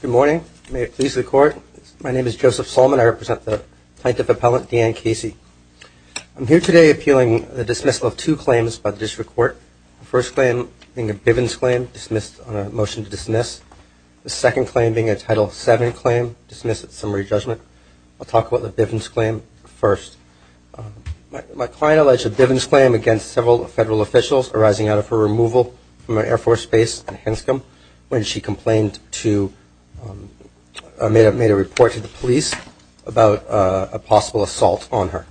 Good morning. May it please the Court. My name is Joseph Solman. I represent the tight-dip appellant, Deanne Casey. I'm here today appealing the dismissal of two claims by the District Court. The first claim being a Bivens claim, dismissed on a motion to dismiss. The second claim being a Title VII claim, dismissed at summary judgment. I'll talk about the Bivens claim first. My client alleged a Bivens claim against several federal officials arising out of her removal from an Air Force base in Hanscom when she complained to, made a report to the police about a possible assault on her.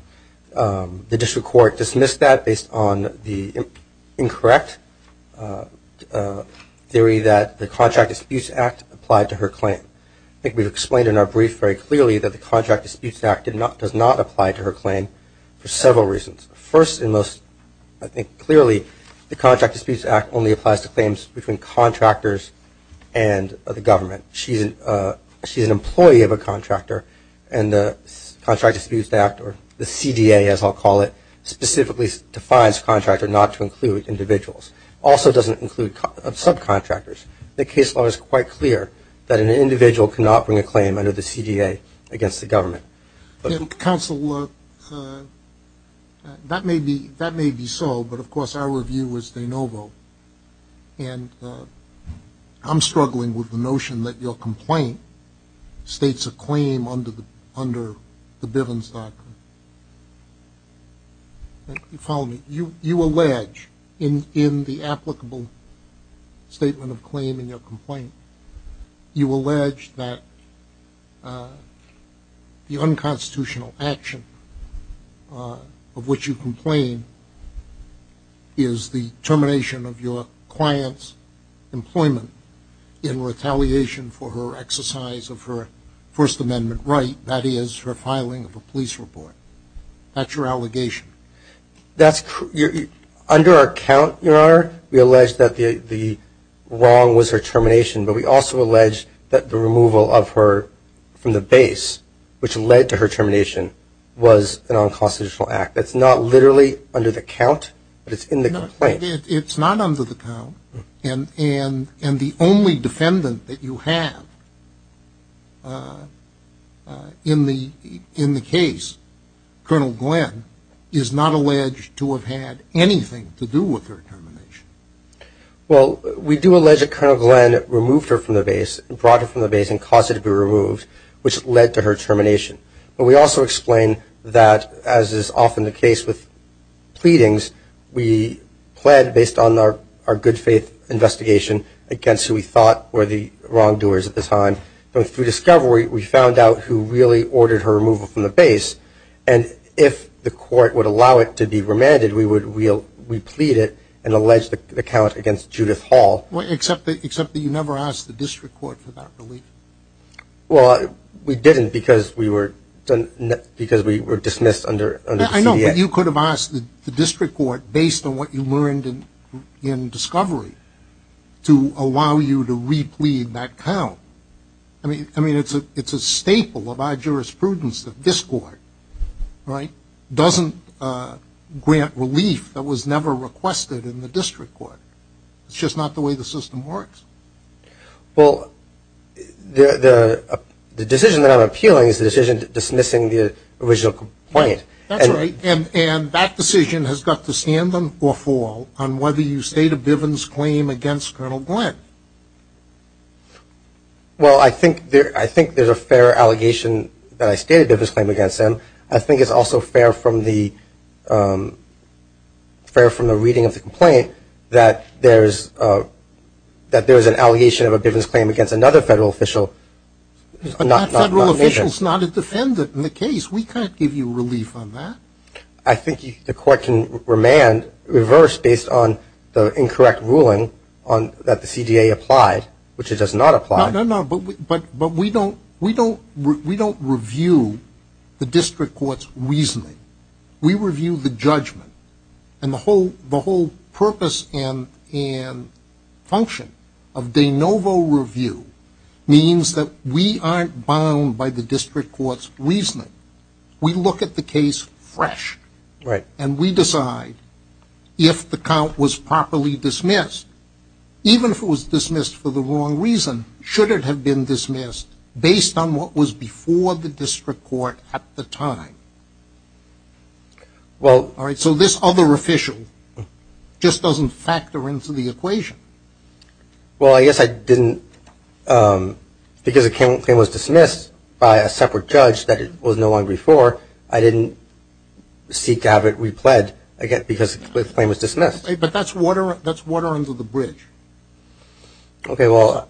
The District Court dismissed that based on the incorrect theory that the Contract Disputes Act applied to her claim. I think we've explained in our brief very clearly that the Contract Disputes Act does not apply to her claim for several reasons. First and most, I think clearly, the Contract Disputes Act only applies to claims between contractors and the government. She's an employee of a contractor and the Contract Disputes Act, or the CDA as I'll call it, specifically defines contractor not to include individuals. Also doesn't include subcontractors. The case law is quite clear that an individual cannot bring a claim under the CDA against the government. Counsel, that may be so, but of course our review was de novo, and I'm struggling with the notion that your complaint states a claim under the Bivens doctrine. You follow me? You allege in the applicable statement of claim in your complaint, you allege that the unconstitutional action of which you complain is the termination of your client's employment in retaliation for her exercise of her First Amendment right, that is, her filing of a police report. That's your allegation? Under our account, Your Honor, we allege that the wrong was her termination, but we also allege that her termination was an unconstitutional act. That's not literally under the count, but it's in the complaint. It's not under the count, and the only defendant that you have in the case, Colonel Glenn, is not alleged to have had anything to do with her termination. Well we do allege that Colonel Glenn removed her from the base, brought her from the base and caused her to be removed, which led to her termination. But we also explain that, as is often the case with pleadings, we pled based on our good faith investigation against who we thought were the wrongdoers at the time, but through discovery, we found out who really ordered her removal from the base, and if the court would allow it to be remanded, we plead it and allege the count against Judith Hall. Except that you never asked the district court for that relief. Well, we didn't because we were dismissed under the CDA. I know, but you could have asked the district court, based on what you learned in discovery, to allow you to re-plead that count. I mean, it's a staple of our jurisprudence that this court doesn't grant relief that was never requested in the district court. It's just not the way the system works. Well, the decision that I'm appealing is the decision dismissing the original complaint. That's right, and that decision has got to stand or fall on whether you state a Bivens claim against Colonel Glenn. Well I think there's a fair allegation that I state a Bivens claim against him. I think it's also fair from the reading of the complaint that there's an allegation of a Bivens claim against another federal official. But that federal official is not a defendant in the case. We can't give you relief on that. I think the court can remand, reverse, based on the incorrect ruling that the CDA applied, which it does not apply. But we don't review the district court's reasoning. We review the judgment, and the whole purpose and function of de novo review means that we aren't bound by the district court's reasoning. We look at the case fresh, and we decide if the count was properly dismissed, even if it was dismissed for the wrong reason, should it have been dismissed based on what was before the district court at the time. So this other official just doesn't factor into the equation. Well I guess I didn't, because the claim was dismissed by a separate judge that it was no longer before, I didn't seek to have it repled because the claim was dismissed. But that's water under the bridge. Okay, well,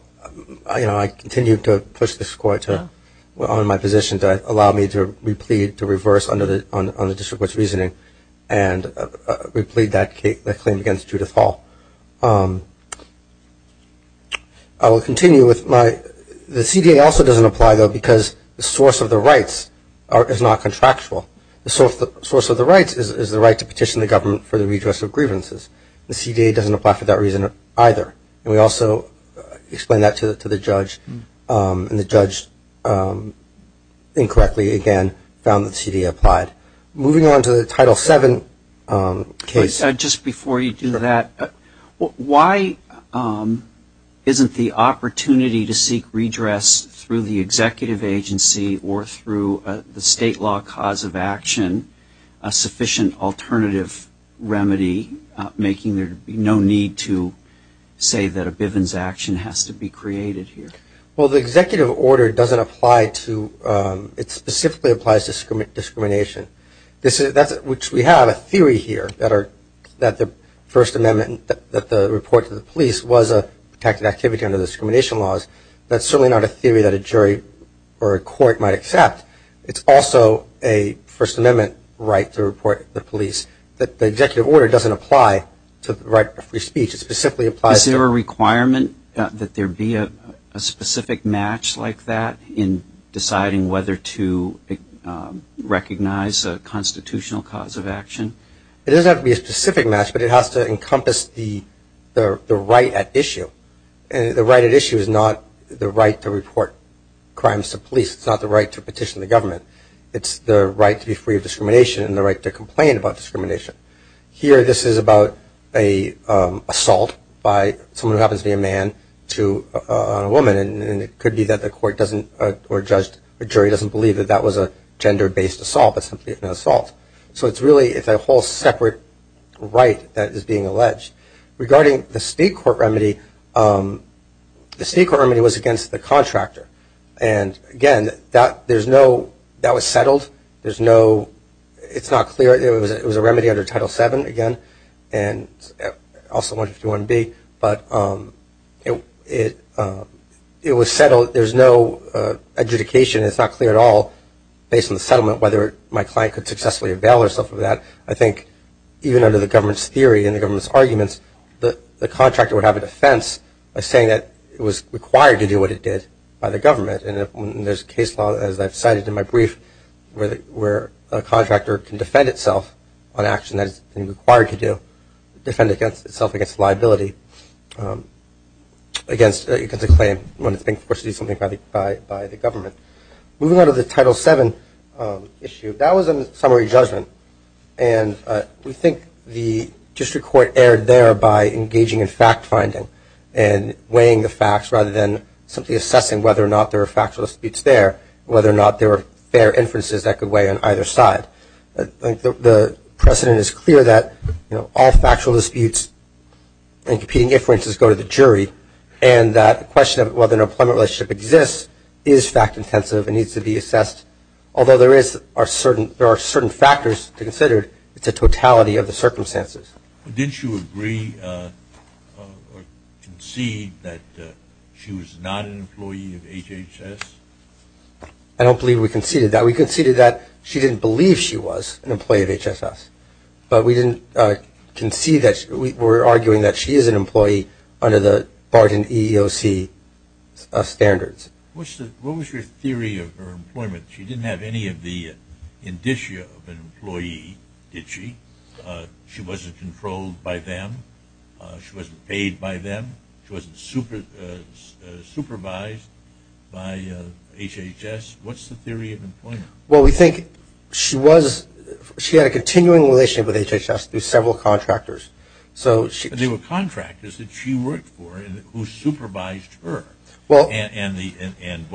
I continue to push this court on my position to allow me to replead, to reverse on the district court's reasoning, and replead that claim against Judith Hall. I will continue with my, the CDA also doesn't apply though because the source of the rights is not contractual. The source of the rights is the right to petition the government for the redress of grievances. The CDA doesn't apply for that reason either. And we also explain that to the judge, and the judge incorrectly again found that the CDA applied. Moving on to the Title VII case. Just before you do that, why isn't the opportunity to seek redress through the executive agency or through the state law cause of action a sufficient alternative remedy, making there be no need to say that a Bivens action has to be created here? Well, the executive order doesn't apply to, it specifically applies to discrimination. Which we have a theory here, that the First Amendment, that the report to the police was a protected activity under the discrimination laws. That's certainly not a theory that a jury or a court might accept. It's also a First Amendment right to report to the police. The executive order doesn't apply to the right to free speech, it specifically applies to Is there a requirement that there be a specific match like that in deciding whether to recognize a constitutional cause of action? It doesn't have to be a specific match, but it has to encompass the right at issue. The right at issue is not the right to report crimes to police, it's not the right to petition the government. It's the right to be free of discrimination and the right to complain about discrimination. Here this is about an assault by someone who happens to be a man to a woman, and it could be that the court doesn't, or a jury doesn't believe that that was a gender based assault, but simply an assault. So it's really a whole separate right that is being alleged. Regarding the state court remedy, the state court remedy was against the contractor. And again, that was settled, there's no, it's not clear, it was a remedy under Title 7 again, and also 151B, but it was settled, there's no adjudication, it's not clear at all based on the settlement whether my client could successfully avail herself of that. I think even under the government's theory and the government's arguments, the contractor would have a defense by saying that it was required to do what it did by the government. And there's a case law, as I've cited in my brief, where a contractor can defend itself on action that it's been required to do, defend itself against liability, against a claim when it's being forced to do something by the government. Moving on to the Title 7 issue, that was a summary judgment, and we think the district court erred there by engaging in fact finding and weighing the facts rather than simply assessing whether or not there were factual disputes there, whether or not there were fair inferences that could weigh on either side. The precedent is clear that all factual disputes and competing inferences go to the jury, and that question of whether an employment relationship exists is fact-intensive and needs to be assessed. Although there are certain factors to consider, it's a totality of the circumstances. Didn't you agree or concede that she was not an employee of HHS? I don't believe we conceded that. We conceded that she didn't believe she was an employee of HHS, but we didn't concede that, we're arguing that she is an employee under the EEOC standards. What was your theory of her employment? She didn't have any of the indicia of an employee, she wasn't controlled by them, she wasn't paid by them, she wasn't supervised by HHS, what's the theory of employment? Well we think she had a continuing relationship with HHS through several contractors. So there were contractors that she worked for who supervised her, and isn't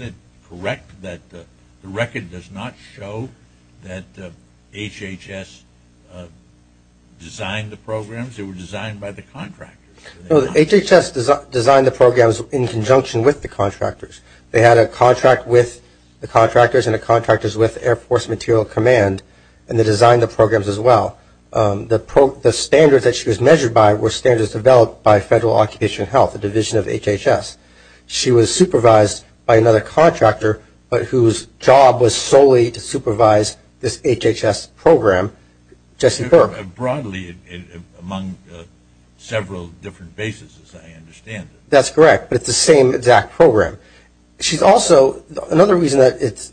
it correct that the record does not show that HHS designed the programs, they were designed by the contractors? HHS designed the programs in conjunction with the contractors. They had a contract with the contractors and the contractors with the Air Force Materiel Command, and they designed the programs as well. The standards that she was measured by were standards developed by Federal Occupational Health, a division of HHS. She was supervised by another contractor but whose job was solely to supervise this HHS program, Jesse Burke. Broadly, among several different bases as I understand it. That's correct, but it's the same exact program. She's also, another reason that it's,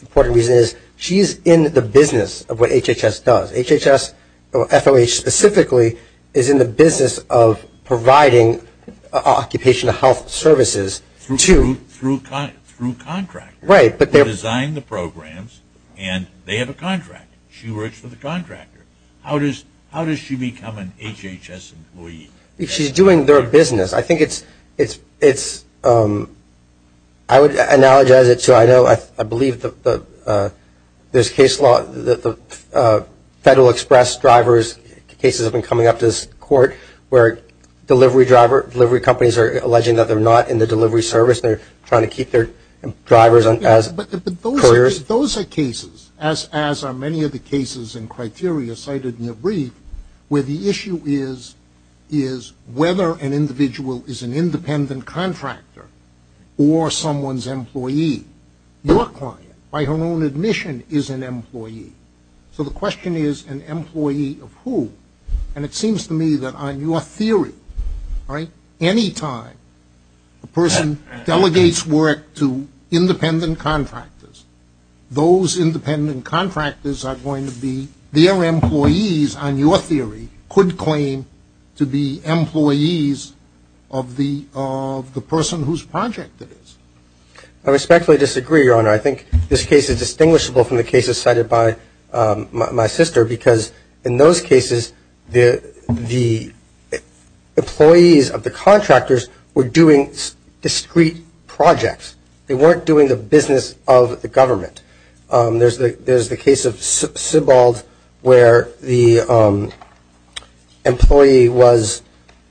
important reason is she's in the business of what HHS does. HHS, or FOH specifically, is in the business of providing occupational health services to... Through contractors who design the programs, and they have a contract. She works for the contractor. How does she become an HHS employee? She's doing their business. I think it's, I would analogize it to, I know, I believe the, there's case law, the Federal Express drivers, cases have been coming up to this court where delivery driver, delivery companies are alleging that they're not in the delivery service. They're trying to keep their drivers as couriers. Those are cases, as are many of the cases and criteria cited in your brief, where the issue is, is whether an individual is an independent contractor or someone's employee. Your client, by her own admission, is an employee. So the question is, an employee of who? And it seems to me that on your theory, right, any time a person delegates work to independent contractors, those independent contractors are going to be, their employees, on your theory, could claim to be employees of the, of the person whose project it is. I respectfully disagree, Your Honor. I think this case is distinguishable from the cases cited by my sister because in those cases, the, the employees of the contractors were doing discrete projects. They weren't doing the business of the government. There's the, there's the case of Sybald where the employee was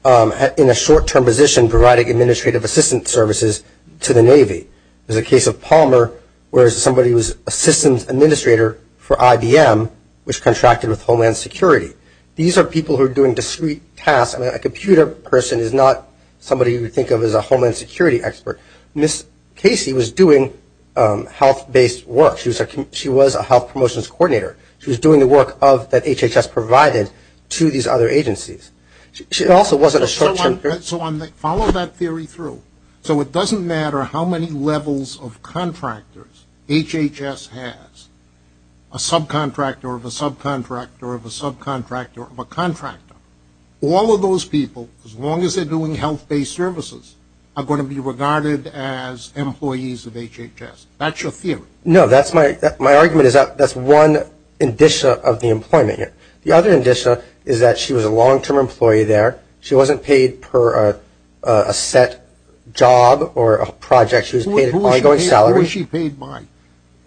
in a short-term position providing administrative assistance services to the Navy. There's a case of Palmer where somebody was assistant administrator for IBM, which contracted with Homeland Security. These are people who are doing discrete tasks. I mean, a computer person is not somebody you would think of as a Homeland Security expert. Ms. Casey was doing health-based work. She was a, she was a health promotions coordinator. She was doing the work of, that HHS provided to these other agencies. She was doing, so it doesn't matter how many levels of contractors HHS has, a subcontractor of a subcontractor of a subcontractor of a contractor, all of those people, as long as they're doing health-based services, are going to be regarded as employees of HHS. That's your theory. No, that's my, my argument is that's one indicia of the employment here. The other indicia is that she was a long-term employee there. She wasn't paid per a set job or a project. She was paid an ongoing salary. Who was she paid by?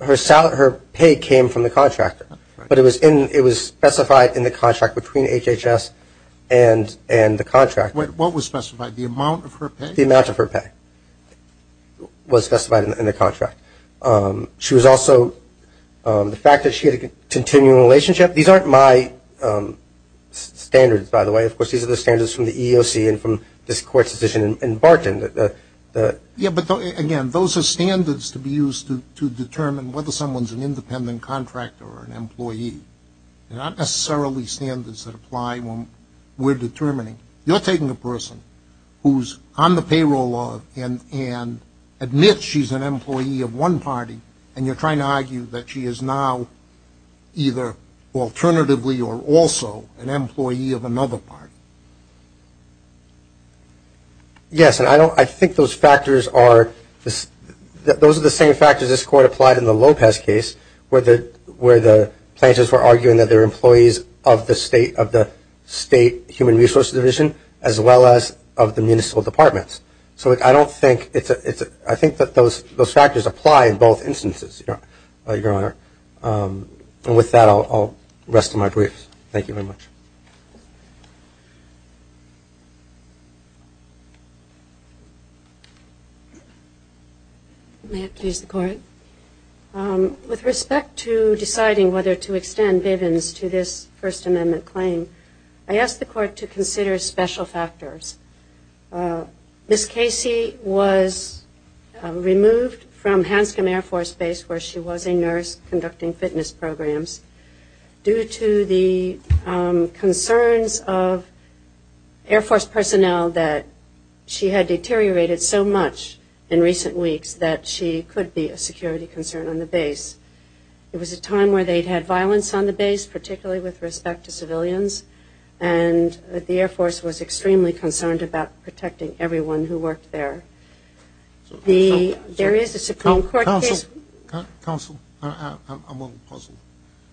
Her salary, her pay came from the contractor. But it was in, it was specified in the contract between HHS and, and the contractor. What was specified? The amount of her pay? The amount of her pay was specified in the contract. She was also, the fact that she had a continual relationship. These aren't my standards, by the way. Of course, these are the standards from the EEOC and from this court's decision in Barton. Yeah, but again, those are standards to be used to, to determine whether someone's an independent contractor or an employee. They're not necessarily standards that apply when we're determining. You're taking a person who's on the payroll of and, and admits she's an employee of one party, and you're trying to argue that she is now either alternatively or also an employee of another party. Yes, and I don't, I think those factors are, those are the same factors this court applied in the Lopez case, where the, where the plaintiffs were arguing that they're employees of the state, of the state human resources division, as well as of the municipal departments. So I don't think it's a, it's a, I think that those, those factors apply in both instances, Your Honor. And with that, I'll rest my briefs. Thank you very much. May it please the Court. With respect to deciding whether to extend Bivens to this First Amendment claim, I ask the Court to consider special factors. Ms. Casey was removed from Hanscom Air Force Base, where she was a nurse conducting fitness programs, due to the concerns of Air Force personnel that she had deteriorated so much in recent weeks that she could be a security concern on the base. It was a time where they'd had violence on the base, particularly with respect to civilians, and that the Air Force was extremely concerned about protecting everyone who worked there. The, there is a Supreme Court case... Counsel, counsel, I'm a little puzzled.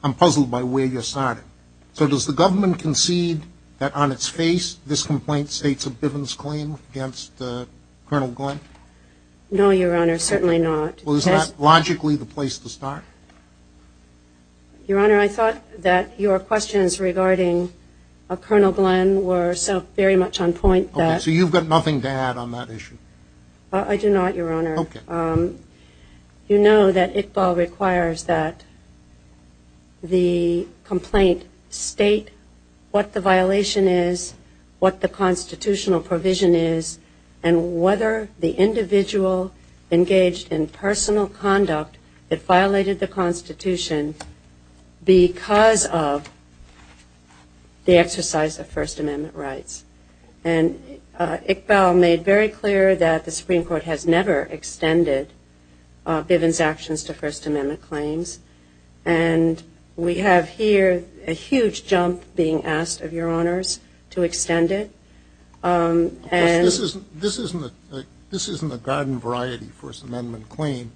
I'm puzzled by where you're starting. So does the government concede that on its face, this complaint states a Bivens claim against Colonel Glenn? No, Your Honor, certainly not. Well, is that logically the place to start? Your Honor, I thought that your questions regarding Colonel Glenn were so very much on point that... Okay, so you've got nothing to add on that issue? I do not, Your Honor. Okay. You know that ICBA requires that the complaint state what the violation is, what the constitutional provision is, and whether the individual engaged in personal conduct that violated the Constitution because of the exercise of First Amendment rights. And ICBA made very clear that the Supreme Court has never extended Bivens' actions to First Amendment claims. And we have here a huge jump being asked of Your Honors to extend it. Of course, this isn't, this isn't a garden variety First Amendment claim.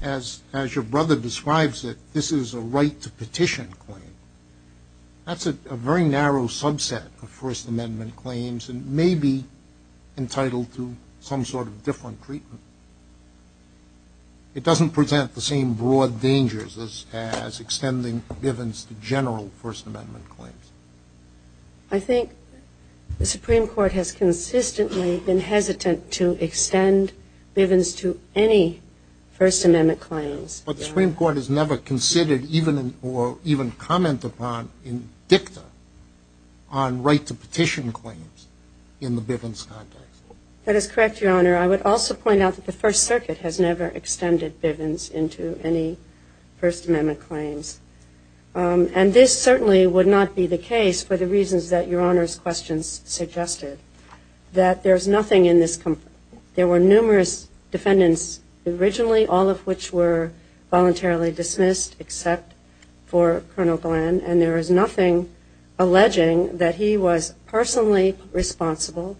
As your brother describes it, this is a right to petition claim. That's a very narrow subset of First Amendment claims and may be entitled to some sort of different treatment. It doesn't present the same broad dangers as extending Bivens' general First Amendment claims. I think the Supreme Court has consistently been hesitant to extend Bivens' to any First Amendment claims. But the Supreme Court has never considered even, or even commented upon in dicta on right to petition claims in the Bivens' context. That is correct, Your Honor. I would also point out that the First Circuit has never extended Bivens' into any First Amendment claims. And this certainly would not be the case for the reasons that Your Honor's questions suggested. That there's nothing in this, there were numerous defendants originally, all of which were voluntarily dismissed except for Colonel Glenn, and there is nothing alleging that he was personally responsible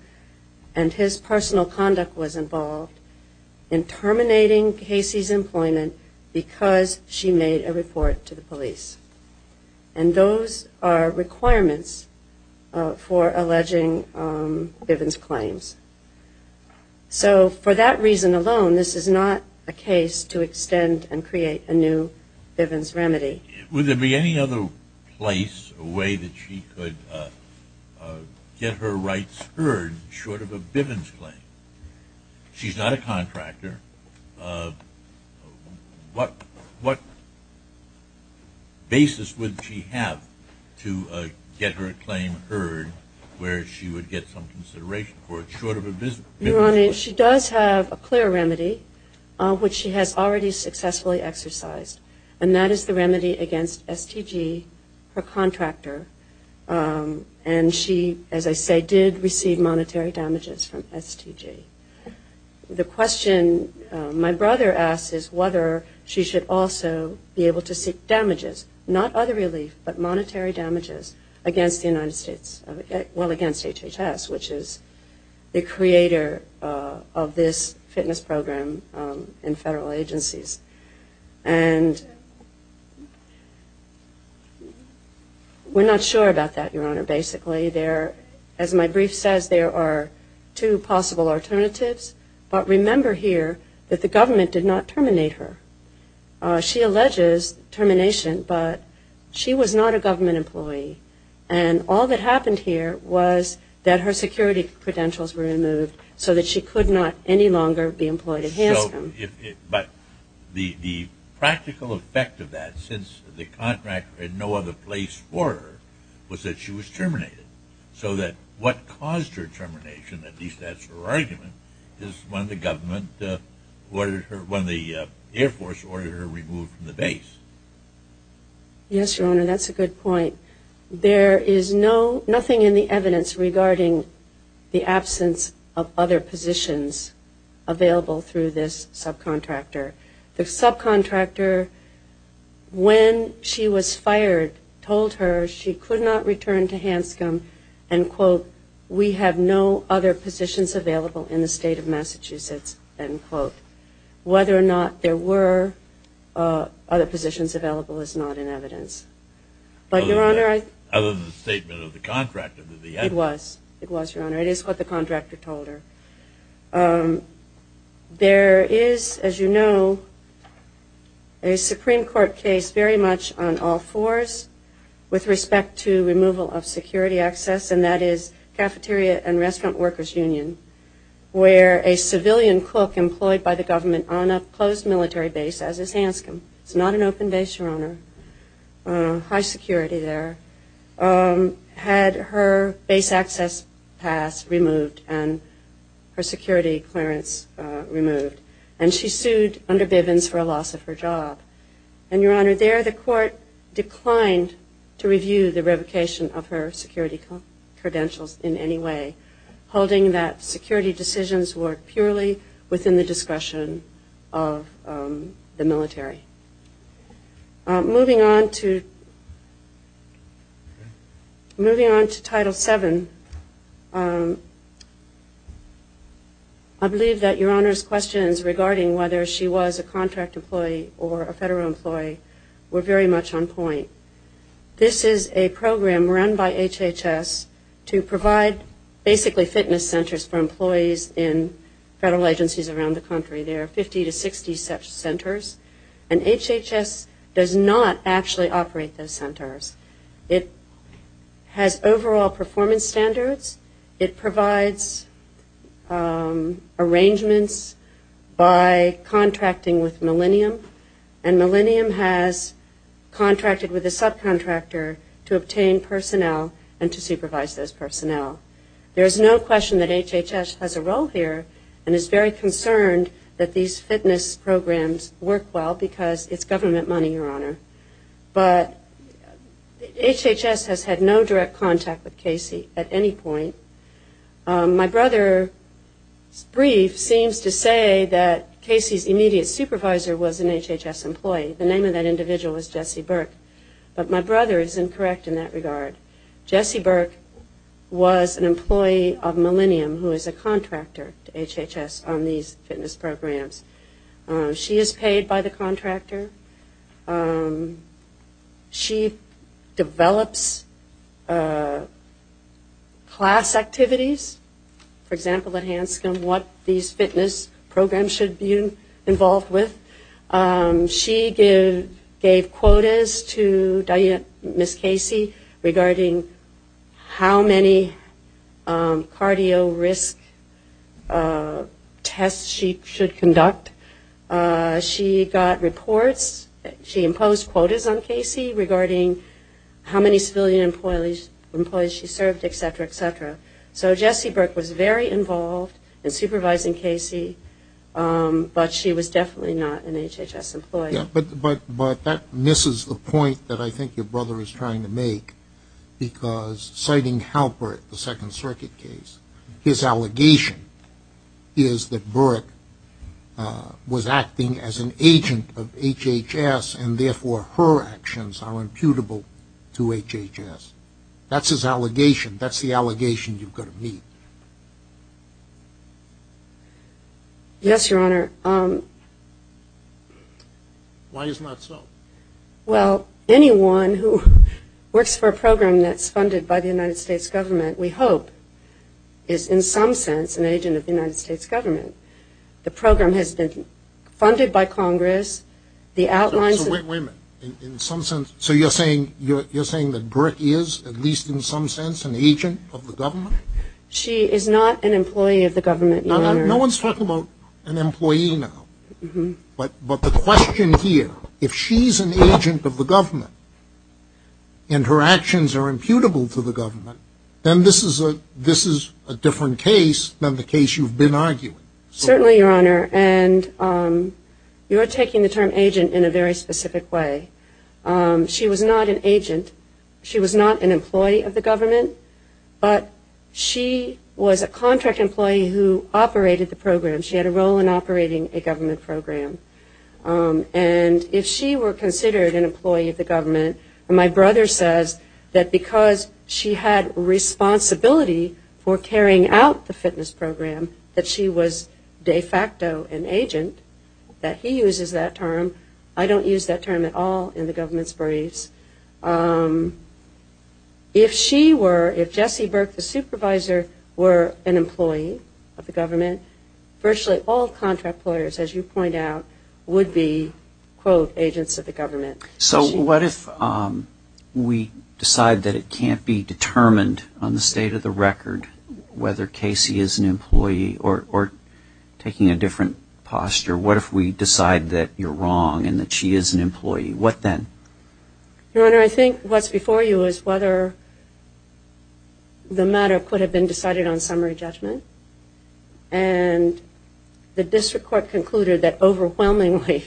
and his personal conduct was involved in terminating Casey's employment because she made a report to the police. And those are requirements for alleging Bivens' claims. So for that reason alone, this is not a case to extend and create a new Bivens remedy. Would there be any other place, a way that she could get her rights heard short of a Bivens' claim? She's not a contractor. What basis would she have to get her claim heard where she would get some consideration for it short of a Bivens' claim? Your Honor, she does have a clear remedy, which she has already successfully exercised. And that is the remedy against STG, her contractor. And she, as I say, did receive monetary damages from STG. The question my brother asks is whether she should also be able to seek damages, not other relief, but monetary damages against the United States, well, against HHS, which is the creator of this fitness program in federal agencies. And we're not sure about that, Your Honor, basically. As my brief says, there are two possible alternatives. But remember here that the government did not terminate her. She alleges termination, but she was not a government employee. And all that happened here was that her security credentials were removed so that she could not any longer be employed at Hanscom. But the practical effect of that, since the contractor had no other place for her, was that she was terminated. So that what caused her termination, at least that's her argument, is when the government ordered her, when the Air Force ordered her removed from the base. Yes, Your Honor, that's a good point. There is no, nothing in the evidence regarding the absence of other positions available through this subcontractor. The subcontractor, when she was fired, told her she could not return to Hanscom and, quote, we have no other positions available in the state of Massachusetts, end quote. Whether or not there were other positions available is not in evidence. But, Your Honor, I love the statement of the contractor. It was. It was, Your Honor. It is what the contractor told her. There is, as you know, a Supreme Court case very much on all fours with respect to removal of security access, and that is Cafeteria and Restaurant Workers Union, where a civilian cook employed by the government on a closed military base, as is Hanscom. It's not an open base, Your Honor. High security there. Had her base access pass removed and her security clearance removed. And she sued under Bivens for a loss of her job. And, Your Honor, there the court declined to review the revocation of her security credentials in any way, holding that security decisions were purely within the discretion of the military. Moving on to Title VII, I believe that Your Honor's questions regarding whether she was a contract employee or a federal employee were very much on point. This is a program run by HHS to provide basically fitness centers for employees in federal agencies around the country. HHS does not actually operate those centers. It has overall performance standards. It provides arrangements by contracting with Millennium, and Millennium has contracted with a subcontractor to obtain personnel and to supervise those personnel. There is no question that HHS has a role here and is very concerned that these fitness programs work well because it's government money, Your Honor. But HHS has had no direct contact with Casey at any point. My brother's brief seems to say that Casey's immediate supervisor was an HHS employee. The name of that individual was Jesse Burke. But my brother is incorrect in that regard. Jesse Burke was an employee of Millennium who is a contractor to HHS on these fitness programs. She is paid by the contractor. She develops class activities, for example, at Hanscom, what these fitness programs should be involved with. She gave quotas to Ms. Casey regarding how many cardio risk tests she was required to do. She was asked what tests she should conduct. She got reports. She imposed quotas on Casey regarding how many civilian employees she served, et cetera, et cetera. So Jesse Burke was very involved in supervising Casey, but she was definitely not an HHS employee. Yeah, but that misses the point that I think your brother is trying to make because citing Halpert, the Second Circuit case, his allegation is that Burke was acting as an agent of HHS and therefore her actions are imputable to HHS. That's his allegation. That's the allegation you've got to meet. Yes, Your Honor. Why is that so? Well, anyone who works for a program that's funded by the United States government, we hope, is in some sense an agent of the United States government. The program has been funded by Congress. The outlines of... So wait a minute. In some sense, so you're saying that Burke is, at least in some sense, an agent of the government? She is not an employee of the government, Your Honor. No one's talking about an employee now. But the question here, if she's an agent of the government and her actions are imputable to the government, then this is a different case than the case you've been arguing. Certainly, Your Honor. And you're taking the term agent in a very specific way. She was not an agent. She was not an employee of the government, but she was a contract employee who operated the program. She had a role in the government. My brother says that because she had responsibility for carrying out the fitness program, that she was de facto an agent, that he uses that term. I don't use that term at all in the government's briefs. If she were, if Jessie Burke, the supervisor, were an employee of the government, virtually all contract employers, as you point out, would be, quote, agents of the government. So what if we decide that it can't be determined on the state of the record whether Casey is an employee or, taking a different posture, what if we decide that you're wrong and that she is an employee? What then? Your Honor, I think what's before you is whether the matter could have been decided on summary judgment. And the district court concluded that overwhelmingly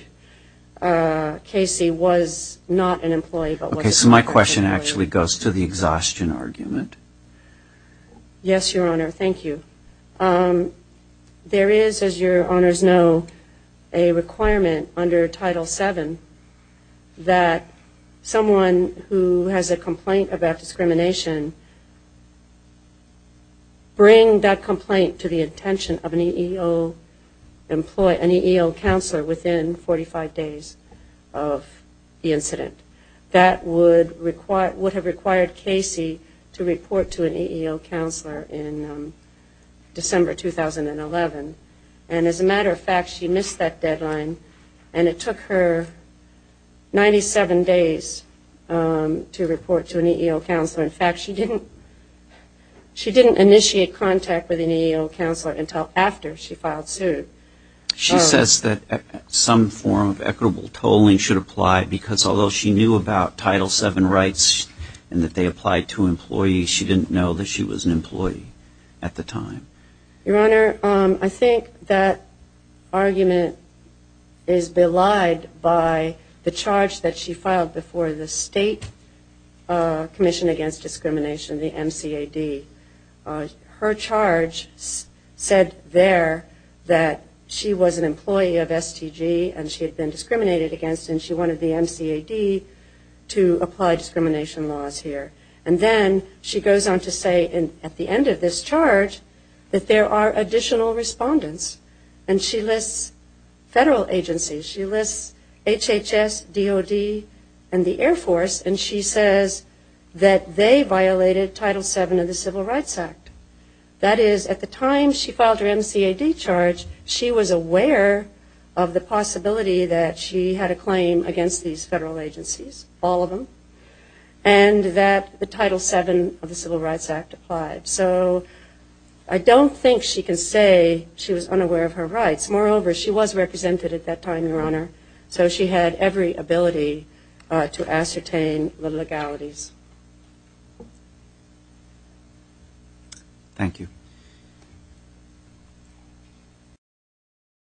Casey was not an employee, but was an employee. Okay, so my question actually goes to the exhaustion argument. Yes, Your Honor. Thank you. There is, as Your Honor's know, a requirement under Title VII that someone who has a complaint about discrimination bring that complaint to the attention of an EEO employee, an EEO counselor within 45 days of the incident. That would have required Casey to report to an EEO counselor in December 2011. And as a matter of fact, she missed that deadline and it took her 97 days to report to an EEO counselor. In fact, she didn't initiate contact with an EEO counselor until after she filed suit. She says that some form of equitable tolling should apply because although she knew about Title VII rights and that they applied to employees, she didn't know that she was an employee at the time. Your Honor, I think that argument is belied by the charge that she filed before the state Commission Against Discrimination, the MCAD. Her charge said there that she was an employee of STG and she had been discriminated against and she wanted the MCAD to apply discrimination laws here. And then she goes on to say at the end of this charge that there are additional respondents and she lists federal agencies. She lists HHS, DOD, and the Air Force and she says that they violated Title VII of the Civil Rights Act. That is, at the time she filed her MCAD charge, she was aware of the possibility that she had a claim against these federal agencies, all of them, and that the Title VII of the Civil Rights Act applied. So I don't think she can say she was unaware of her rights. Moreover, she was represented at that time, Your Honor, so she had every ability to ascertain the legalities. Thank you.